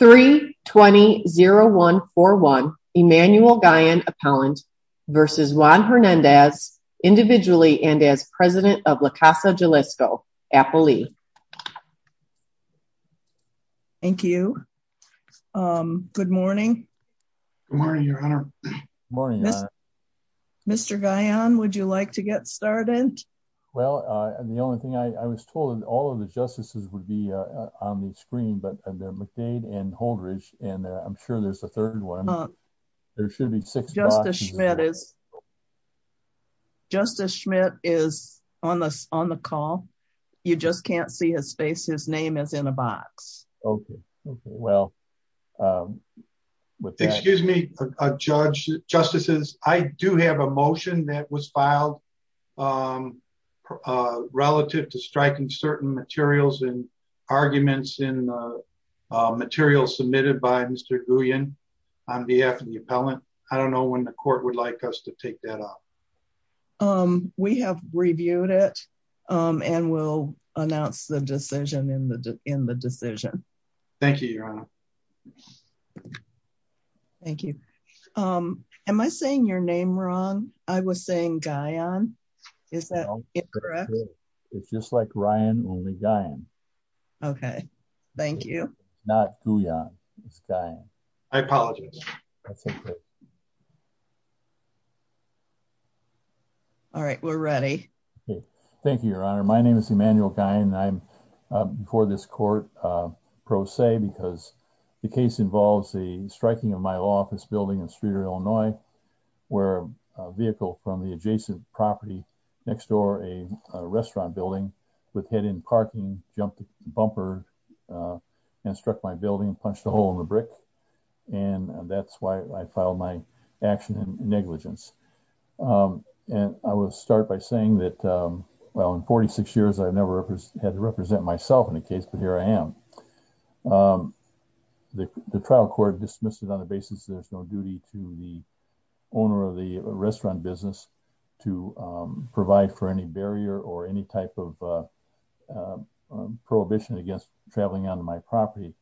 3-20-0141 Emanuel Gayan Appellant v. Juan Hernandez, individually and as President of La Casa Jalisco, Apple Lee. Thank you. Good morning. Good morning, Your Honor. Good morning, Your Honor. Mr. Gayan, would you like to get started? Well, the only thing, I was told all of the justices would be on the screen, but McNeil Wade and Holdridge, and I'm sure there's a third one. There should be six boxes. Justice Schmidt is on the call. You just can't see his face. His name is in a box. Okay. Okay. Well, with that... Excuse me, judges, justices, I do have a motion that was filed relative to striking certain materials and arguments in the material submitted by Mr. Guyon on behalf of the appellant. I don't know when the court would like us to take that up. We have reviewed it, and we'll announce the decision in the decision. Thank you, Your Honor. Thank you. Am I saying your name wrong? I was saying Gayan. Is that correct? It's just like Ryan, only Gayan. Okay. Thank you. Not Guyon. It's Gayan. I apologize. That's okay. All right. We're ready. Okay. Thank you, Your Honor. My name is Emmanuel Guyon, and I'm before this court pro se because the case involves the striking of my law office building in Streeter, Illinois, where a vehicle from the restaurant building would hit in parking, jump the bumper, and struck my building, punched a hole in the brick. And that's why I filed my action in negligence. And I will start by saying that, well, in 46 years, I've never had to represent myself in a case, but here I am. The trial court dismissed it on the basis that it's no duty to the owner of the restaurant business to provide for any barrier or any type of prohibition against traveling onto my property.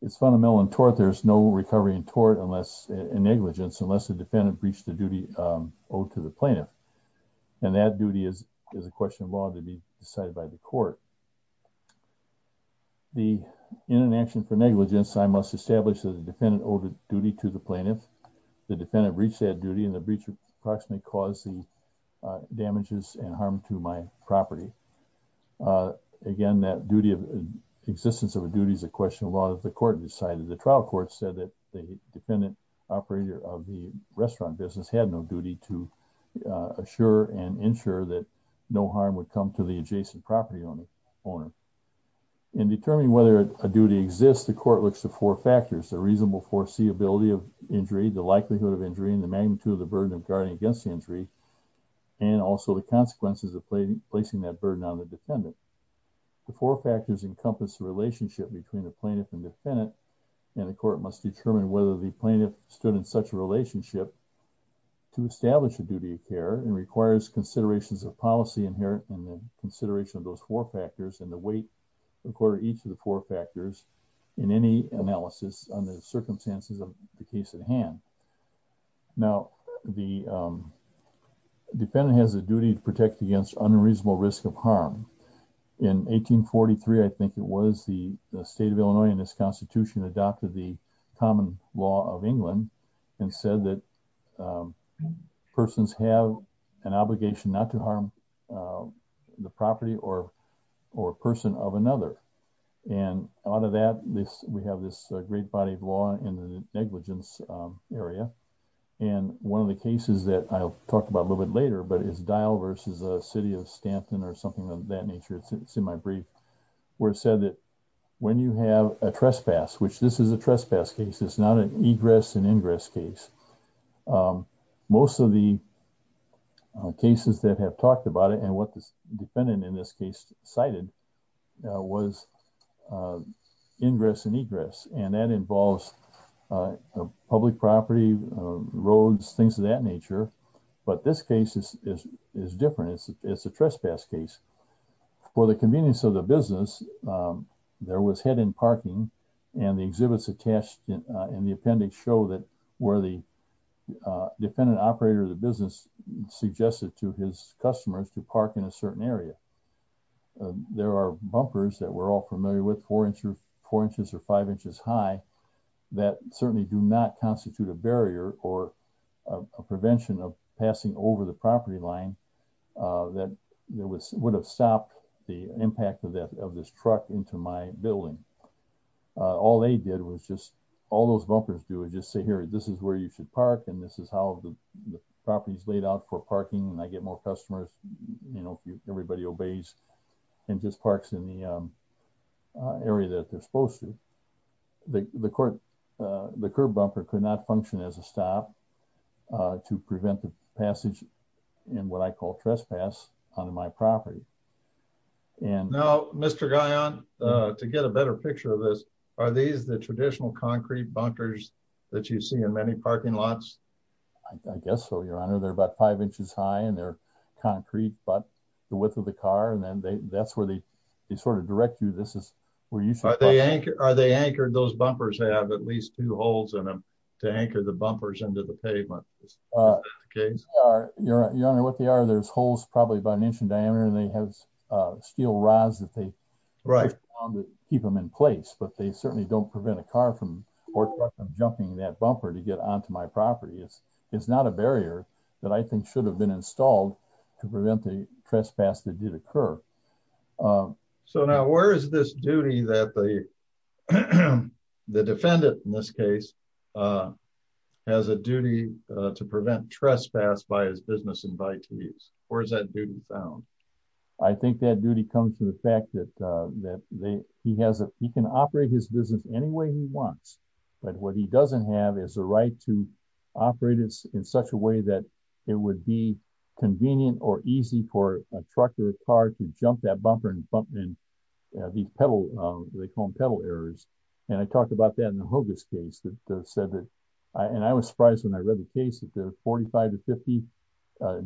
It's fundamental in tort. There's no recovery in negligence unless the defendant breached the duty owed to the plaintiff. And that duty is a question of law to be decided by the court. The in an action for negligence, I must establish that the defendant owed a duty to the plaintiff, the defendant breached that duty, and the breach approximately caused the damages and harm to my property. Again, that duty of existence of a duty is a question of law that the court decided. The trial court said that the defendant operator of the restaurant business had no duty to assure and ensure that no harm would come to the adjacent property owner. In determining whether a duty exists, the court looks to four factors, the reasonable foreseeability of injury, the likelihood of injury, and the magnitude of the burden of guarding against the injury, and also the consequences of placing that burden on the defendant. The four factors encompass the relationship between the plaintiff and defendant, and the court must determine whether the plaintiff stood in such a relationship to establish a duty of care and requires considerations of policy inherent in the consideration of those four factors and the weight according to each of the four factors in any analysis under the circumstances of the case at hand. Now, the defendant has a duty to protect against unreasonable risk of harm. In 1843, I think it was, the state of Illinois in its constitution adopted the common law of England and said that persons have an obligation not to harm the property or a person of another, and out of that, we have this great body of law in the negligence area, and one of the cases that I'll talk about a little bit later, but it's Dial versus the city of Stanton or something of that nature, it's in my brief, where it said that when you have a trespass, which this is a trespass case, it's not an egress and ingress case, most of the cases that have talked about it and what the defendant in this case cited was ingress and egress, and that involves public property, roads, things of that nature, but this case is different. It's a trespass case. For the convenience of the business, there was head-end parking, and the exhibits attached in the appendix show that where the defendant operator of the business suggested to his customers to park in a certain area. There are bumpers that we're all familiar with, four inches or five inches high, that certainly do not constitute a barrier or a prevention of passing over the property line that would have stopped the impact of this truck into my building. All they did was just, all those bumpers do is just say, here, this is where you should park, and this is how the property's laid out for parking, and I get more customers, you know, everybody obeys and just parks in the area that they're supposed to. The curb bumper could not function as a stop to prevent the passage in what I call trespass onto my property. Now, Mr. Guyon, to get a better picture of this, are these the traditional concrete bumpers that you see in many parking lots? I guess so, Your Honor. They're about five inches high, and they're concrete, but the width of the car, and that's where they sort of direct you, this is where you should park. Are they anchored? Those bumpers have at least two holes in them to anchor the bumpers into the pavement, is that the case? Your Honor, what they are, there's holes probably about an inch in diameter, and they have steel rods that they keep them in place, but they certainly don't prevent a car from or truck from jumping that bumper to get onto my property. It's not a barrier that I think should have been installed to prevent the trespass that did occur. So now, where is this duty that the defendant, in this case, has a duty to prevent trespass by his business invitees? Where is that duty found? I think that duty comes from the fact that he can operate his business any way he wants, but what he doesn't have is the right to operate it in such a way that it would be convenient or easy for a truck or a car to jump that bumper and bump in these pedal, they call them pedal errors, and I talked about that in the Hougas case that said that, and I was talking about the 50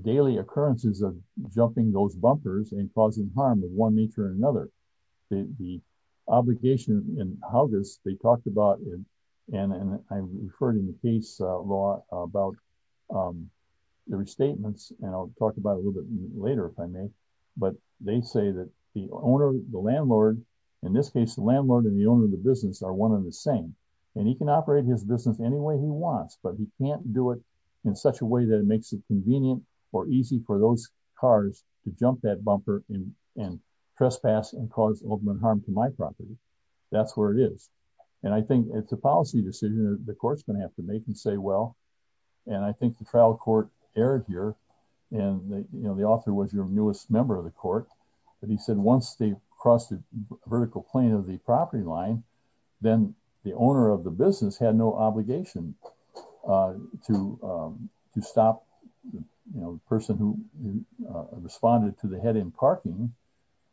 daily occurrences of jumping those bumpers and causing harm of one nature or another. The obligation in Hougas, they talked about, and I referred in the case law about the restatements, and I'll talk about a little bit later if I may, but they say that the owner, the landlord, in this case, the landlord and the owner of the business are one in the same, and he can do it in such a way that it makes it convenient or easy for those cars to jump that bumper and trespass and cause ultimate harm to my property. That's where it is. And I think it's a policy decision that the court's going to have to make and say, well, and I think the trial court erred here, and, you know, the author was your newest member of the court, but he said once they crossed the vertical plane of the property line, then the owner of the business had no obligation to stop the person who responded to the head in parking,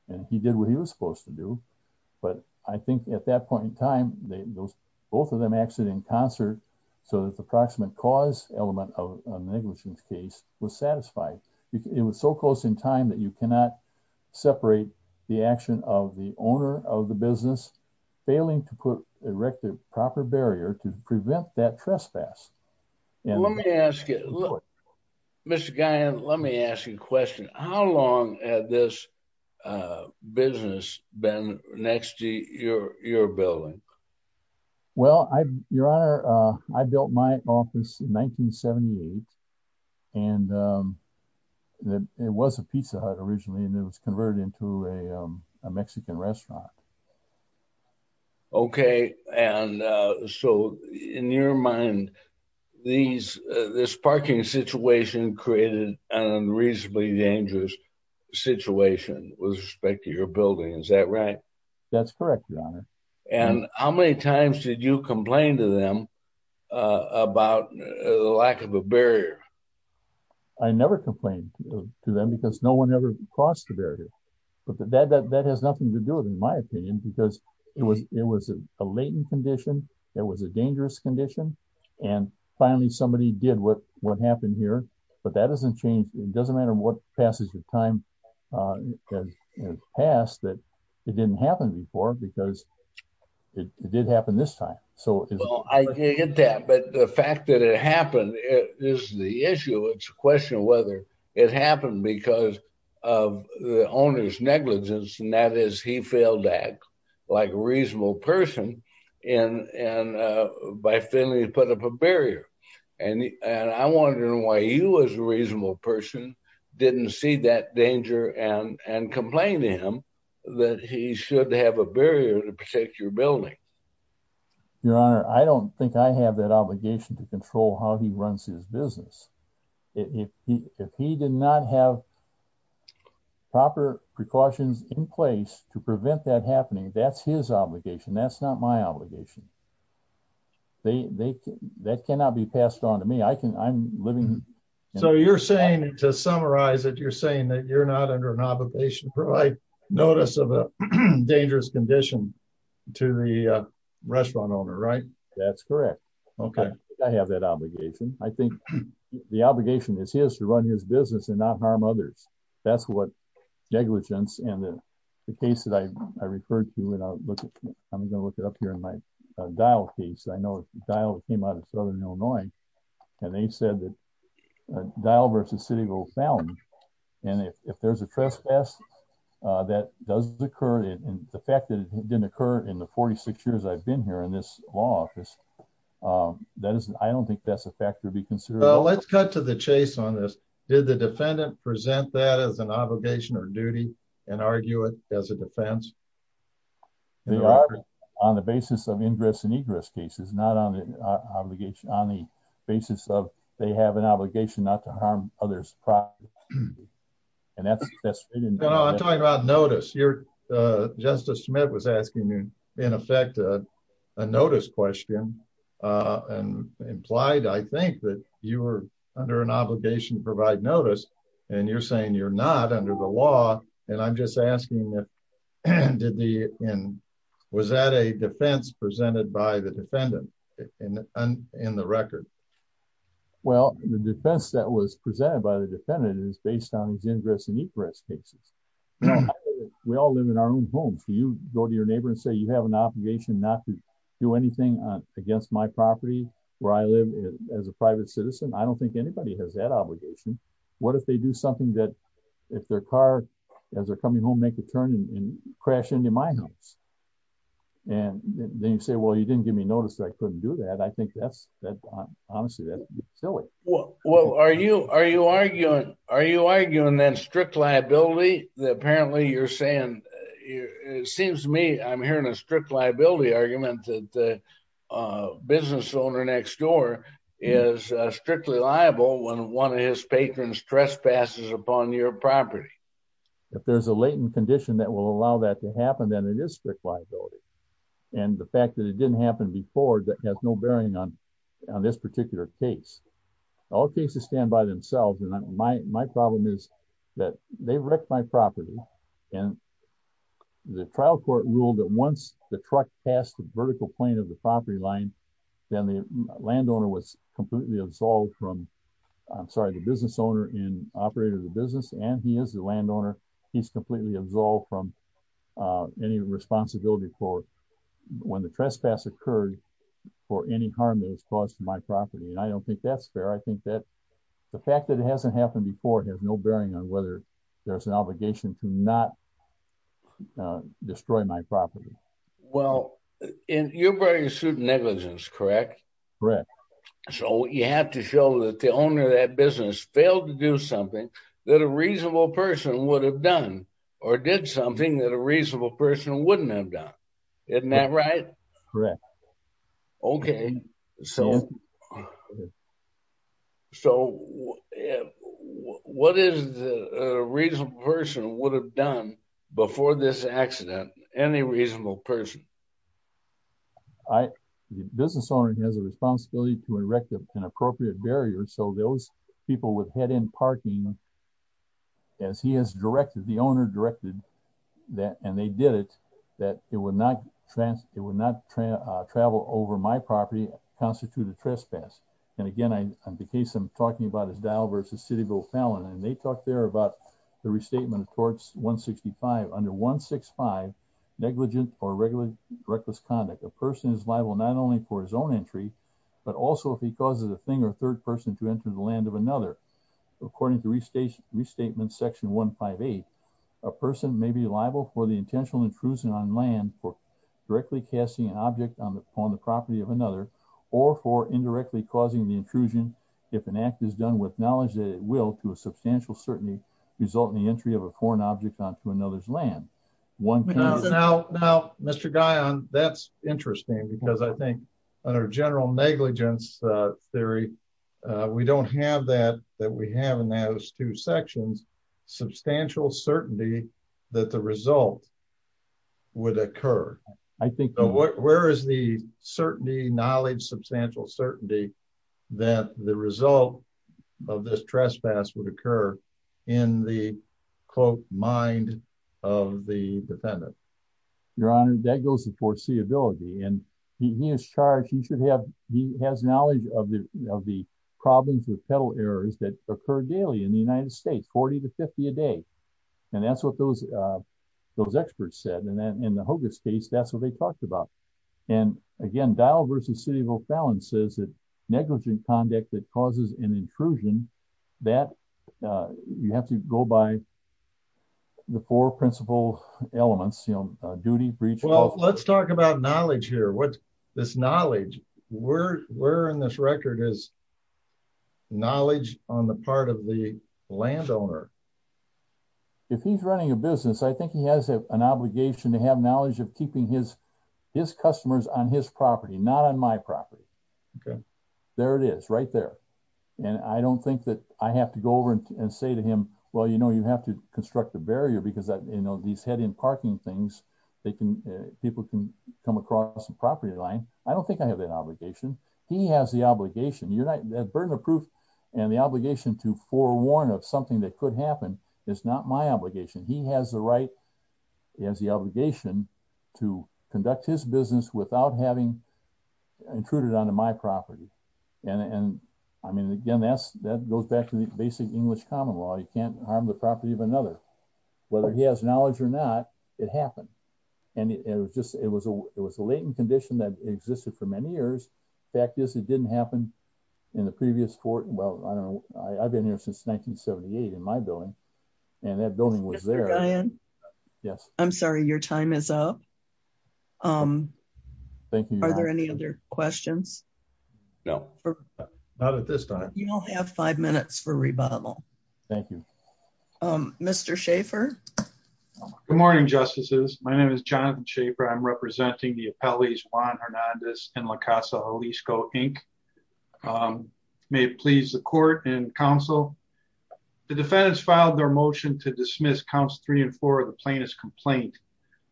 and he did what he was supposed to do. But I think at that point in time, both of them acted in concert so that the approximate cause element of negligence case was satisfied. It was so close in time that you cannot separate the action of the owner of the business failing to erect a proper barrier to prevent that trespass. Let me ask you, Mr. Guyon, let me ask you a question. How long had this business been next to your building? Well, your honor, I built my office in 1978, and it was a pizza hut originally, and it was converted into a Mexican restaurant. Okay, and so in your mind, this parking situation created an unreasonably dangerous situation with respect to your building, is that right? That's correct, your honor. And how many times did you complain to them about the lack of a barrier? I never complained to them because no one ever crossed the barrier, but that has nothing to do with my opinion, because it was a latent condition, it was a dangerous condition, and finally somebody did what happened here, but that doesn't change, it doesn't matter what passage of time has passed, that it didn't happen before because it did happen this time. So I get that, but the fact that it happened is the issue, it's a question of whether it he failed to act like a reasonable person by failing to put up a barrier, and I'm wondering why you as a reasonable person didn't see that danger and complain to him that he should have a barrier to protect your building. Your honor, I don't think I have that obligation to control how he runs his business. If he did not have proper precautions in place to prevent that happening, that's his obligation, that's not my obligation. That cannot be passed on to me, I'm living... So you're saying, to summarize it, you're saying that you're not under an obligation to provide notice of a dangerous condition to the restaurant owner, right? That's correct. Okay. I have that obligation. I think the obligation is his to run his business and not harm others. That's what negligence and the case that I referred to, and I'm going to look it up here in my Dial case, I know Dial came out of Southern Illinois, and they said that Dial versus Citigo found, and if there's a trespass that does occur, and the fact that it didn't occur in the 46 years I've been here in this law office, I don't think that's a factor to be considered. Let's cut to the chase on this. Did the defendant present that as an obligation or duty and argue it as a defense? They are on the basis of ingress and egress cases, not on the basis of they have an obligation not to harm others' property. And that's... No, I'm talking about notice. Justice Smith was asking, in effect, a notice question, and implied, I think, that you were under an obligation to provide notice, and you're saying you're not under the law. And I'm just asking, was that a defense presented by the defendant in the record? Well, the defense that was presented by the defendant is based on his ingress and egress cases. We all live in our own homes. You go to your neighbor and say, you have an obligation not to do anything against my property where I live as a private citizen. I don't think anybody has that obligation. What if they do something that, if their car, as they're coming home, make a turn and crash into my house? And then you say, well, you didn't give me notice, so I couldn't do that. I think that's... Honestly, that's silly. Well, are you arguing, then, strict liability? Apparently, you're saying... It seems to me I'm hearing a strict liability argument that the business owner next door is strictly liable when one of his patrons trespasses upon your property. If there's a latent condition that will allow that to happen, then it is strict liability. And the fact that it didn't happen before has no bearing on this particular case. All cases stand by themselves. And my problem is that they wrecked my property. And the trial court ruled that once the truck passed the vertical plane of the property line, then the landowner was completely absolved from... I'm sorry, the business owner and operator of the business, and he is the landowner, he's completely absolved from any responsibility for when the trespass occurred for any harm that was caused to my property. And I don't think that's fair. I think that the fact that it hasn't happened before has no bearing on whether there's an obligation to not destroy my property. Well, you're bringing a suit of negligence, correct? Correct. So you have to show that the owner of that business failed to do something that a reasonable person would have done or did something that a reasonable person wouldn't have done. Isn't that right? Correct. Okay. So what is it that a reasonable person would have done before this accident? Any reasonable person. The business owner has a responsibility to erect an appropriate barrier so those people with head-end parking, as he has directed, the owner directed, and they did it, that it would not travel over my property and constitute a trespass. And again, the case I'm talking about is Dow v. Cityville Fallon, and they talked there about the restatement of Clause 165, under 165, negligent or reckless conduct. A person is liable not only for his own entry, but also if he causes a third person to enter the land of another. According to Restatement Section 158, a person may be liable for the intentional intrusion on land for directly casting an object on the property of another, or for indirectly causing the intrusion, if an act is done with knowledge that it will, to a substantial certainty, result in the entry of a foreign object onto another's land. Now, Mr. Guion, that's interesting, because I think under general negligence theory, we don't have that, that we have in those two sections, substantial certainty that the result would occur. Where is the certainty, knowledge, substantial certainty, that the result of this trespass would occur in the, quote, mind of the defendant? Your Honor, that goes to foreseeability, and he is charged, he should have, he has knowledge of the problems with pedal errors that occur daily in the United States, 40 to 50 a day. And that's what those experts said, and then in the Hoogers case, that's what they talked about. And again, Dial v. City of O'Fallon says that negligent conduct that causes an intrusion, that, you have to go by the four principal elements, duty, breach, law. Well, let's talk about knowledge here. What, this knowledge, where in this record is knowledge on the part of the landowner? If he's running a business, I think he has an obligation to have knowledge of keeping his customers on his property, not on my property. Okay. There it is, right there. And I don't think that I have to go over and say to him, well, you know, you have to construct a barrier because, you know, these head in parking things, they can, people can come across the property line. I don't think I have that obligation. He has the obligation, that burden of proof and the obligation to forewarn of something that could happen is not my obligation. He has the right, he has the obligation to conduct his business without having intruded onto my property. And, I mean, again, that's, that goes back to the basic English common law. You can't harm the property of another, whether he has knowledge or not, it happened. And it was just, it was a, it was a latent condition that existed for many years. Fact is it didn't happen in the previous court. Well, I don't know. I've been here since 1978 in my building and that building was there. Yes. I'm sorry. Your time is up. Thank you. Are there any other questions? No, not at this time. You all have five minutes for rebuttal. Thank you. Mr. Schaefer. Good morning, justices. My name is Jonathan Schaefer. I'm representing the appellees Juan Hernandez and La Casa Jalisco, Inc. May it please the court and counsel. The defendants filed their motion to dismiss counts three and four of the plaintiff's complaint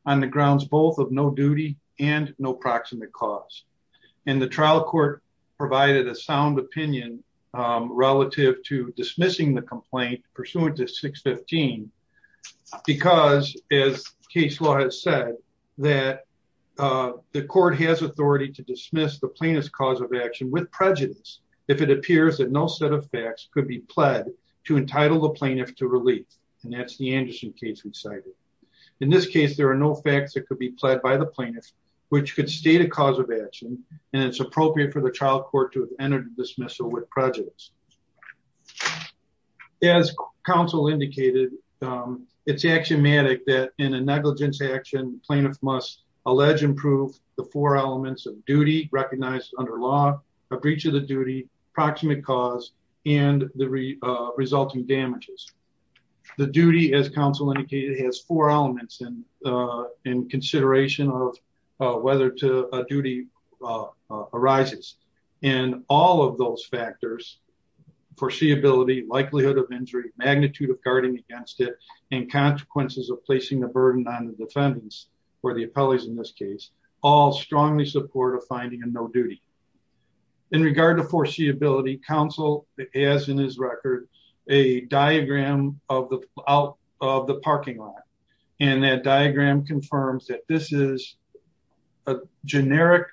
on the grounds, both of no duty and no proximate cause. And the trial court provided a sound opinion relative to dismissing the complaint pursuant to 615, because as case law has said that the court has authority to dismiss the plaintiff's cause of action with prejudice if it appears that no set of facts could be pled to entitle the plaintiff to relief. And that's the Anderson case we cited. In this case, there are no facts that could be pled by the plaintiff, which could state a cause of action. And it's appropriate for the trial court to have entered a dismissal with prejudice. As counsel indicated, it's axiomatic that in a negligence action, plaintiff must allege and prove the four elements of duty recognized under law, a breach of the duty, proximate cause, and the resulting damages. The duty as counsel indicated has four elements in consideration of whether a duty arises. And all of those factors, foreseeability, likelihood of injury, magnitude of guarding against it, and consequences of placing the burden on the defendants or the appellees in this case, all strongly support a finding of no duty. In regard to foreseeability, counsel has in his record a diagram out of the parking lot. And that diagram confirms that this is a generic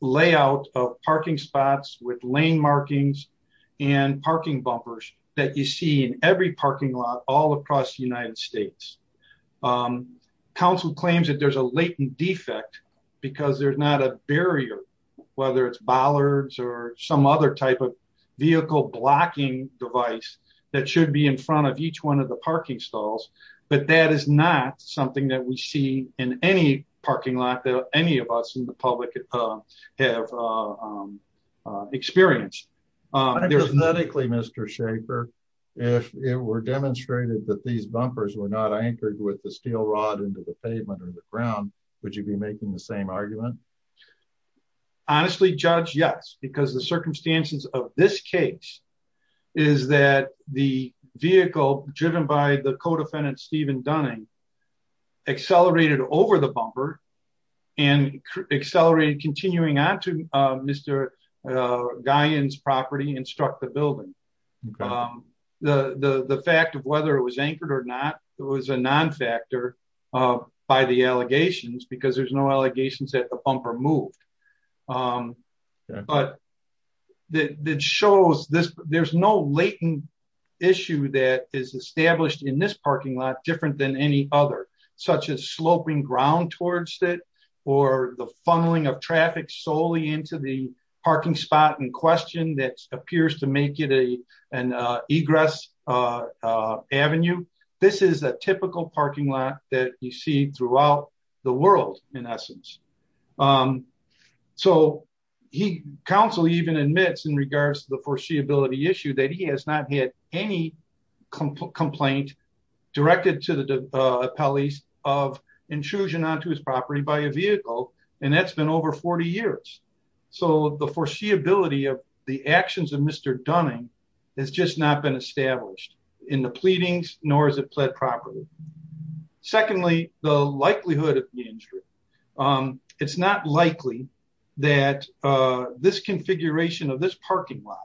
layout of parking spots with lane markings and parking bumpers that you see in every parking lot all across the United States. Counsel claims that there's a latent defect because there's not a barrier, whether it's bollards or some other type of vehicle blocking device that should be in front of each one of the parking stalls. But that is not something that we see in any parking lot that any of us in the public have experienced. If it were demonstrated that these bumpers were not anchored with the steel rod into the pavement or the ground, would you be making the same argument? Honestly, Judge, yes. Because the circumstances of this case is that the vehicle driven by the co-defendant Stephen Dunning accelerated over the bumper and accelerated continuing onto Mr. Guyon's property and struck the building. The fact of whether it was anchored or not was a non-factor by the allegations because there's no allegations that the bumper moved. But it shows there's no latent issue that is established in this parking lot different than any other, such as sloping ground towards it or the funneling of traffic solely into the parking spot in question that appears to make it an egress avenue. This is a typical parking lot that you see throughout the world in essence. So council even admits in regards to the foreseeability issue that he has not had any complaint directed to the police of intrusion onto his property by a vehicle. And that's been over 40 years. So the foreseeability of the actions of Mr. Dunning has just not been established in the pleadings nor has it pled property. Secondly, the likelihood of the injury. It's not likely that this configuration of this parking lot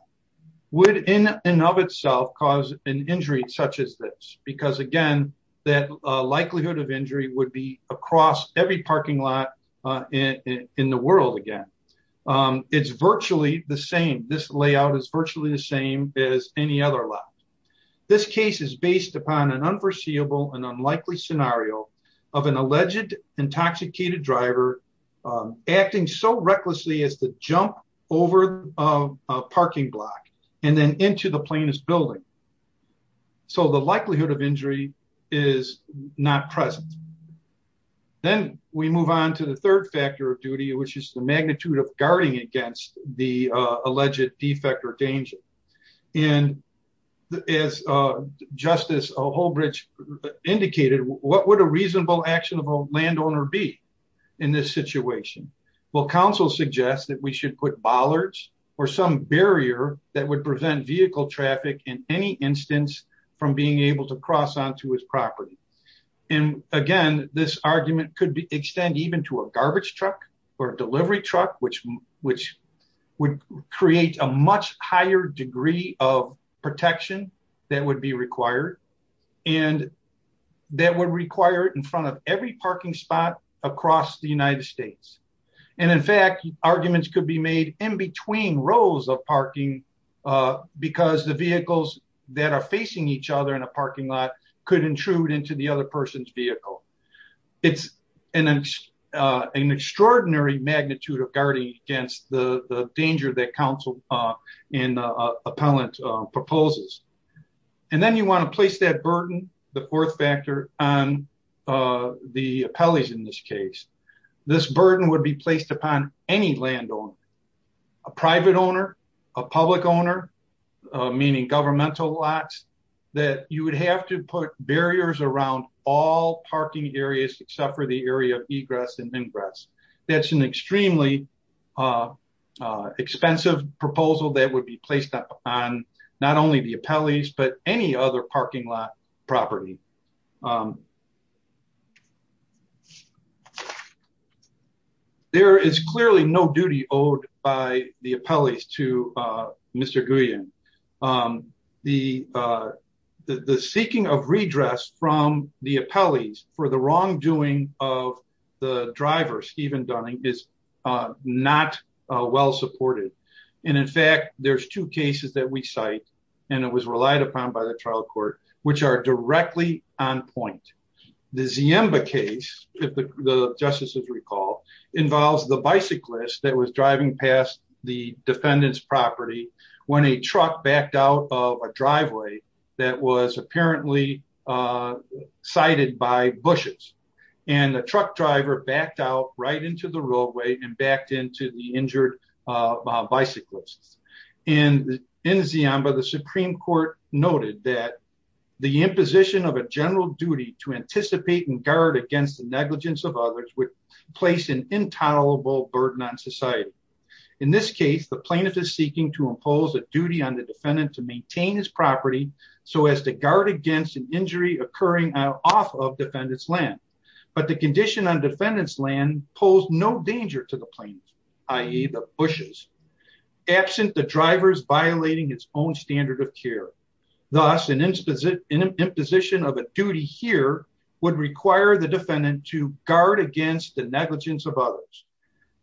would in and of itself cause an injury such as this. Because again, that likelihood of injury would be across every parking lot in the world again. It's virtually the same. This layout is virtually the same as any other lot. This case is based upon an unforeseeable and unlikely scenario of an alleged intoxicated driver acting so recklessly as the jump over a parking block and then into the plaintiff's building. So the likelihood of injury is not present. Then we move on to the third factor of duty which is the magnitude of guarding against the alleged defect or danger. And as Justice Holbridge indicated, what would a reasonable action of a landowner be in this situation? Well, counsel suggests that we should put bollards or some barrier that would prevent vehicle traffic in any instance from being able to cross onto his property. And again, this argument could extend even to a garbage truck or a delivery truck which would create a much higher degree of protection that would be required and that would require it in front of every parking spot across the United States. And in fact, arguments could be made in between rows of parking because the vehicles that are facing each other in a parking lot could intrude into the other person's vehicle. It's an extraordinary magnitude of guarding against the danger that counsel and appellant proposes. And then you want to place that burden, the fourth factor on the appellees in this case. This burden would be placed upon any landowner, a private owner, a public owner, meaning governmental lots that you would have to put barriers around all parking areas except for the area of egress and ingress. That's an extremely expensive proposal that would be placed up on not only the appellees but any other parking lot property. There is clearly no duty owed by the appellees to Mr. Guillen. The seeking of redress from the appellees for the wrongdoing of the driver, Stephen Dunning, is not well supported. And in fact, there's two cases that we cite and it was relied upon by the trial court which are directly on point. The Ziemba case, if the justices recall, involves the bicyclist that was driving past the defendant's property when a truck backed out of a driveway that was apparently sited by bushes. And the truck driver backed out right into the roadway and backed into the injured bicyclist. And in Ziemba, the Supreme Court noted that the imposition of a general duty to anticipate and guard against the negligence of others would place an intolerable burden on society. In this case, the plaintiff is seeking to impose a duty on the defendant to maintain his property so as to guard against an injury occurring off of defendant's land. But the condition on defendant's land posed no danger to the plaintiff, i.e. the bushes, absent the driver's violating its own standard of care. Thus, an imposition of a duty here would require the defendant to guard against the negligence of others.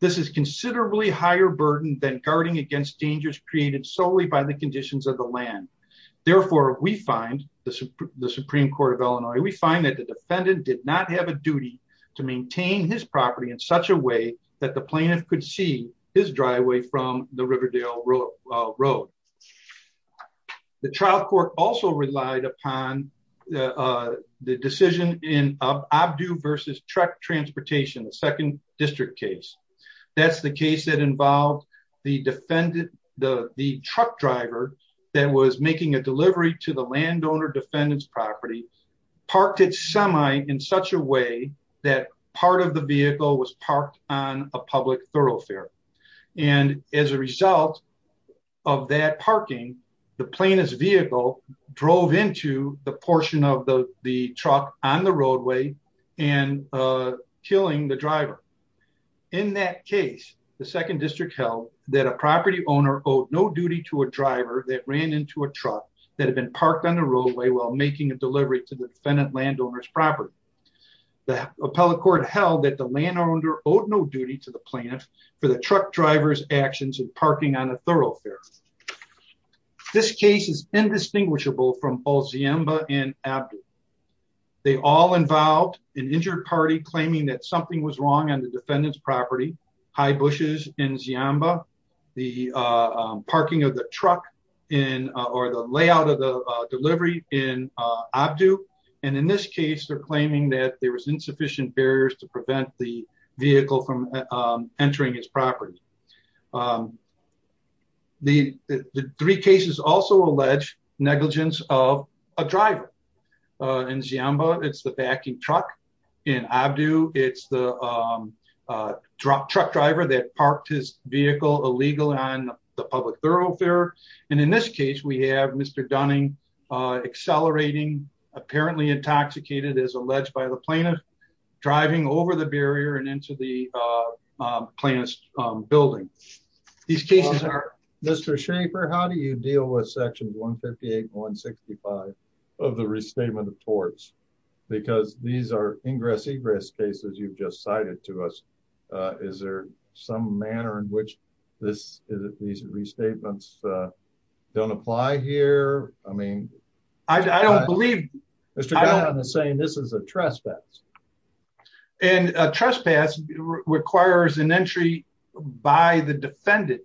This is considerably higher burden than guarding against dangers created solely by the conditions of the land. Therefore, we find, the Supreme Court of Illinois, we find that the defendant did not have a duty to maintain his property in such a way that the plaintiff could see his driveway from the Riverdale Road. The trial court also relied upon the decision in Obdue v. Truck Transportation, the second district case. That's the case that involved the truck driver that was making a delivery to the landowner defendant's property, parked it semi in such a way that part of the vehicle was parked on a public thoroughfare. And as a result of that parking, the plaintiff's vehicle drove into the portion of the truck on the roadway and killing the driver. In that case, the second district held that a property owner owed no duty to a driver that ran into a truck that had been parked on the roadway while making a delivery to the defendant landowner's property. The appellate court held that the landowner owed no duty to the plaintiff for the truck driver's actions in parking on a thoroughfare. This case is indistinguishable from both Ziemba and Obdue. They all involved an injured party claiming that something was wrong on the defendant's property, high bushes in Ziemba, the parking of the truck or the layout of the delivery in Obdue. And in this case, they're claiming that there was insufficient barriers to prevent the vehicle from entering his property. The three cases also allege negligence of a driver. In Ziemba, it's the backing truck. In Obdue, it's the truck driver that parked his vehicle illegal on the public thoroughfare. And in this case, we have Mr. Dunning accelerating, apparently intoxicated as alleged by the plaintiff, driving over the barrier and into the plaintiff's building. Mr. Schaefer, how do you deal with sections 158 and 165 of the restatement of torts? Because these are ingress-egress cases you've just cited to us. Is there some manner in which these restatements don't apply here? I don't believe Mr. Dunning is saying this is a trespass. And a trespass requires an entry by the defendant.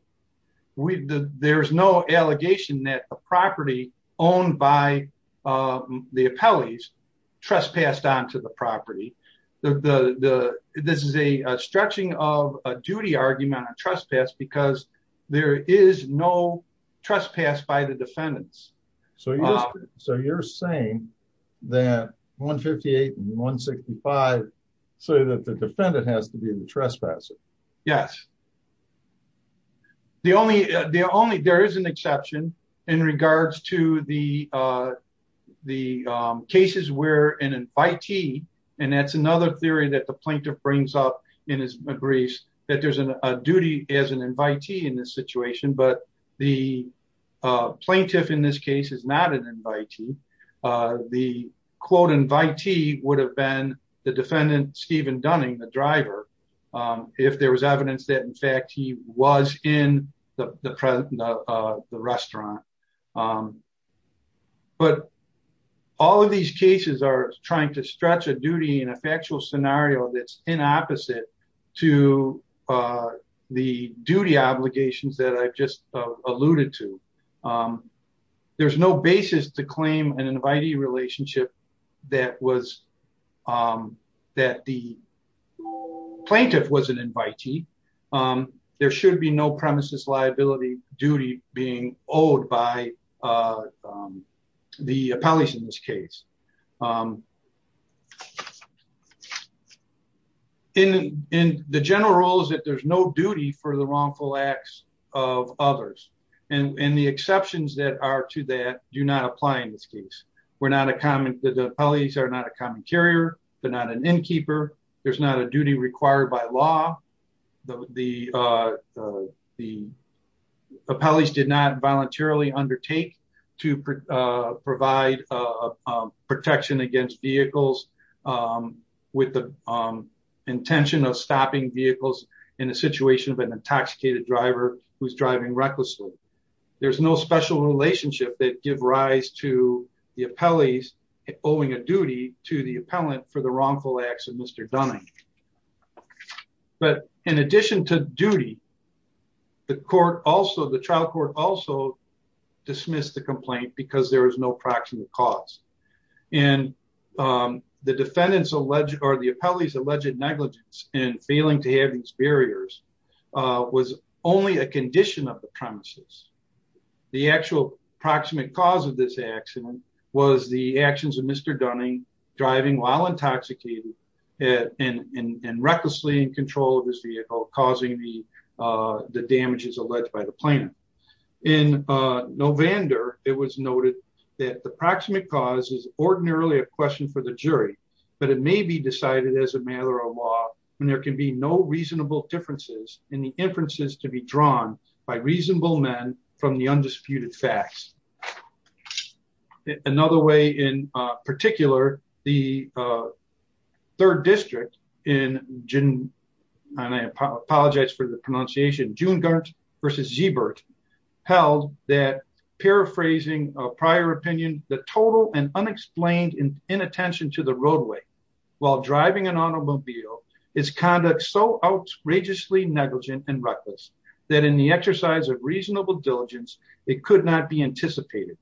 There's no allegation owned by the appellees trespassed onto the property. This is a stretching of a duty argument on trespass because there is no trespass by the defendants. So you're saying that 158 and 165 say that the defendant has to be the trespasser? Yes. There is an exception. In regards to the cases where an invitee and that's another theory that the plaintiff brings up in his briefs that there's a duty as an invitee in this situation but the plaintiff in this case is not an invitee. The quote invitee would have been the defendant Stephen Dunning, the driver if there was evidence that in fact he was in the restaurant. But all of these cases are trying to stretch a duty in a factual scenario that's in opposite to the duty obligations that I've just alluded to. There's no basis to claim an invitee relationship that the plaintiff was an invitee. There should be no premises liability duty being owed by the appellees in this case. The general rule is that there's no duty for the wrongful acts of others and the exceptions that are to that do not apply in this case. The appellees are not a common carrier they're not an innkeeper there's not a duty required by law the appellees did not voluntarily undertake to provide protection against vehicles with the intention of stopping vehicles in a situation of an intoxicated driver who's driving recklessly. There's no special relationship that give rise to the appellees owing a duty to the appellant for the wrongful acts of Mr. Dunning. But in addition to duty the trial court also dismissed the complaint because there was no proximate cause and the defendants or the appellees alleged negligence in failing to have these barriers was only a condition of the premises. The actual proximate cause of this accident was the actions of Mr. Dunning driving while intoxicated and recklessly in control of his vehicle causing the damages alleged by the plaintiff. In Novander it was noted that the proximate cause is ordinarily a question for the jury but it may be decided as a matter of law when there can be no reasonable differences in the inferences to be drawn by reasonable men from the undisputed facts. Another way in particular the third district in June and I apologize for the pronunciation June Gart versus Zeebert held that paraphrasing a prior opinion the total and unexplained inattention to the roadway while driving an automobile is conduct so outrageously negligent and reckless that in the exercise of reasonable diligence it could not be anticipated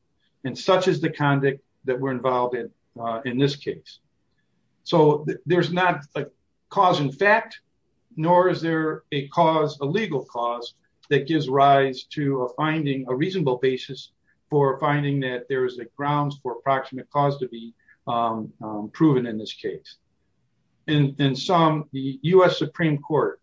and such is the conduct that we're involved in this case. So there's not a cause in fact nor is there a cause a legal cause that gives rise to a finding a reasonable basis for finding that there is a grounds for proximate cause to be proven in this case. In some the U.S. Supreme Court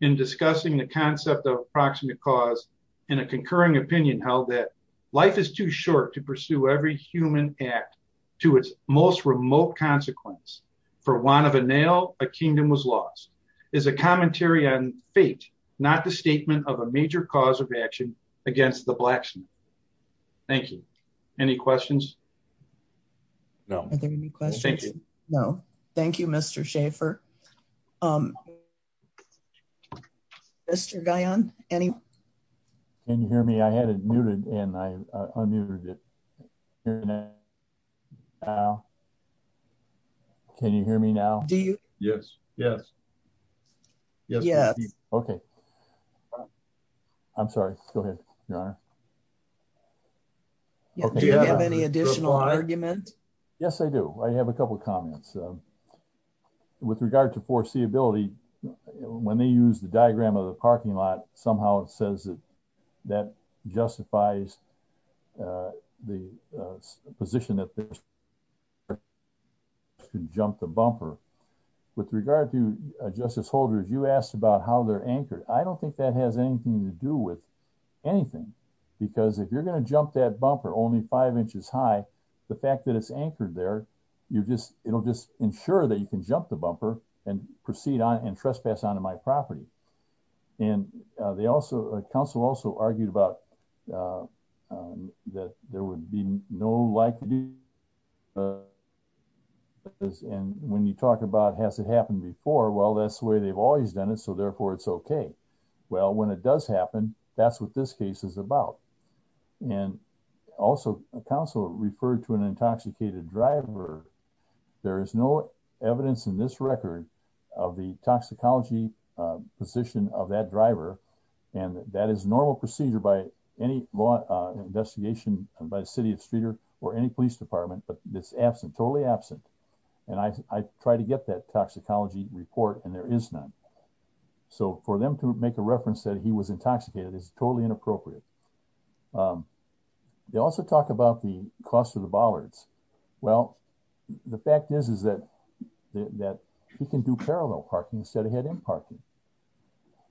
in discussing the concept of proximate cause in a concurring opinion held that life is too short to pursue every human act to its most remote consequence for one of a nail a kingdom was lost is a commentary on fate not the statement of a major cause of action against the blacksmith. Thank you. Any questions? No. Are there any questions? Thank you. No. Thank you Mr. Schaefer. Mr. Guion any Can you hear me? I had it muted and I unmuted it now Can you hear me now? Do you? Yes. Yes. Yes. Okay. I'm sorry. Go ahead, Your Honor. Do you have any additional argument? Yes, I do. I have a couple of comments. With regard to foreseeability when they use the diagram of the parking lot somehow it says that justifies the position to jump the bumper with regard to Justice Holder you asked about how they're anchored I don't think that has anything to do with anything because if you're going to jump that bumper only five inches high the fact that it's anchored there you just it'll just ensure that you can jump the bumper and proceed on and trespass onto my property and they also counsel also argued about that there would be no like do and when you talk about has it happened before well that's the way they've always done it so therefore it's okay well when it does happen that's what this case is about and also counsel referred to an intoxicated driver there is no evidence in this record of the toxicology position of that driver and that is normal procedure by any law investigation by the city of Streeter or any police department but this absent totally absent and I try to get that toxicology report and there is none so for them to make a reference that he was intoxicated is totally inappropriate they also talk about the cost of the bollards well the fact is that he can do parallel parking instead of head in parking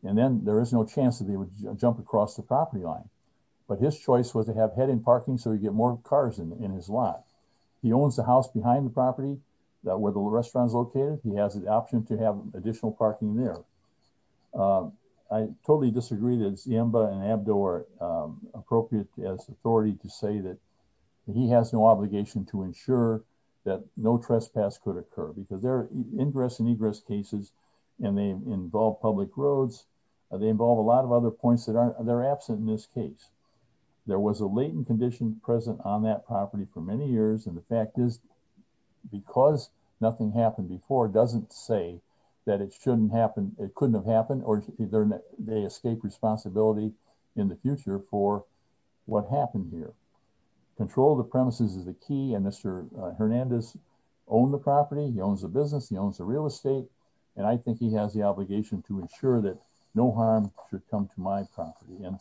and then there is no chance that he would jump across the property line but his choice was to have head in parking so he would get more cars in his lot he owns the house behind the property where the restaurant is located he has the option to have additional parking there I totally that it is appropriate to say that he has no obligation to ensure that no trespass could occur because there are ingress and egress in the property and they involve public roads and a lot of other points that are absent in this case there was a latent condition present on that property for many years and the fact is because nothing happened before doesn't say it couldn't have happened or they escape responsibility in the future for what happened here control of the premises is the key and Mr. Hernandez owns the property and I think he has the obligation to ensure that no harm should come to my property and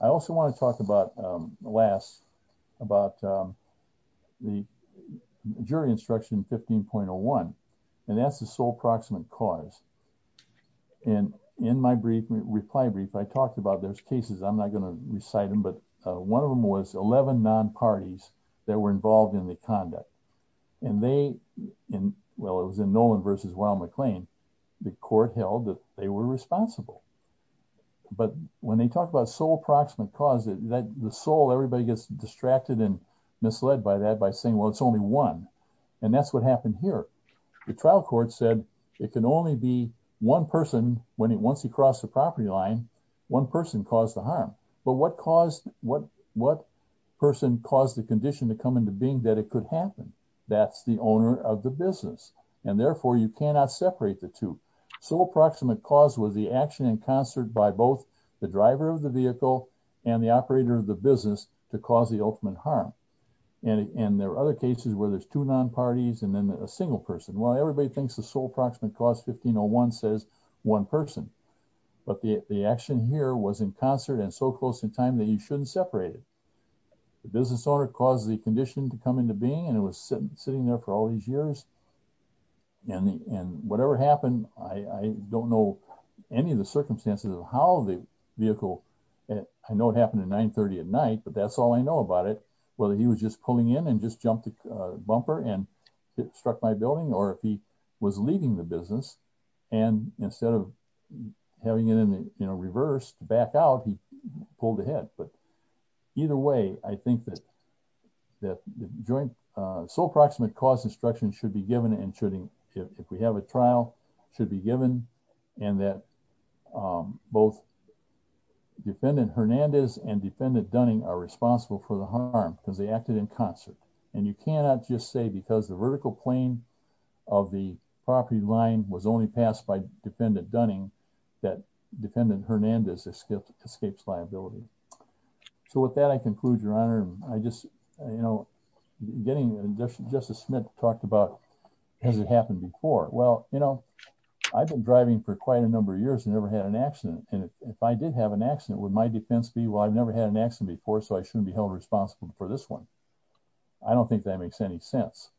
I think to the case. I talked about cases and I'm not going to recite them but one was 11 nonparties involved in the conduct and they in Nolan versus McLean the court held they were responsible but when they talk about the sole approximate cause everybody gets distracted and misled by that saying it's only one and that's what happened here. The trial court said it can only be one person once he crossed the property line but what person caused the condition to come into being that it was the owner of the vehicle and the operator of the business to cause the ultimate harm and there are other cases where there's two nonparties and a single person. Everybody thinks the sole approximate cause says one person but the action here was in concert and so close in time you shouldn't be separated. The business owner caused the condition to come into being and it was sitting there for all these years and whatever happened I don't know any of the circumstances of how the vehicle I know it happened at 930 at night but that's all I know about it whether he was just pulling in and just jumped the bumper and struck my building or if he was leaving the business and instead of having it in reverse back out he pulled ahead but either way I think that the joint sole approximate cause instruction should be given and if we have a trial should be given and that both defendant Hernandez and defendant Dunning are responsible for the harm because they acted in concert and you cannot just say because the vertical plane of the property line was only passed by defendant Dunning that defendant Hernandez escapes liability so with that I conclude your honor I just you know getting justice Smith talked about has it happened before well you know I've been driving for quite a number of years and never had an accident and if I did have an accident would my defense be well I never had an accident before so I shouldn't be held responsible for this one I don't think that makes any sense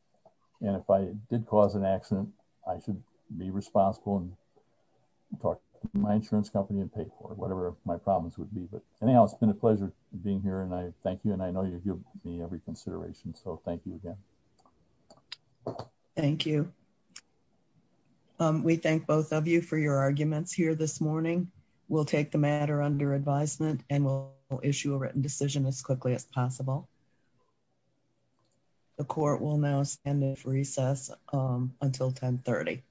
and if I did cause an accident I should be responsible and talk to my insurance company and pay for whatever my problems would be but anyhow it's been a pleasure being here and I thank you and I know you give me every consideration so thank you again thank you we thank both of you for your arguments here this morning we'll take the matter under advisement and we'll issue a written decision as quickly as possible the court will now stand at recess until 1030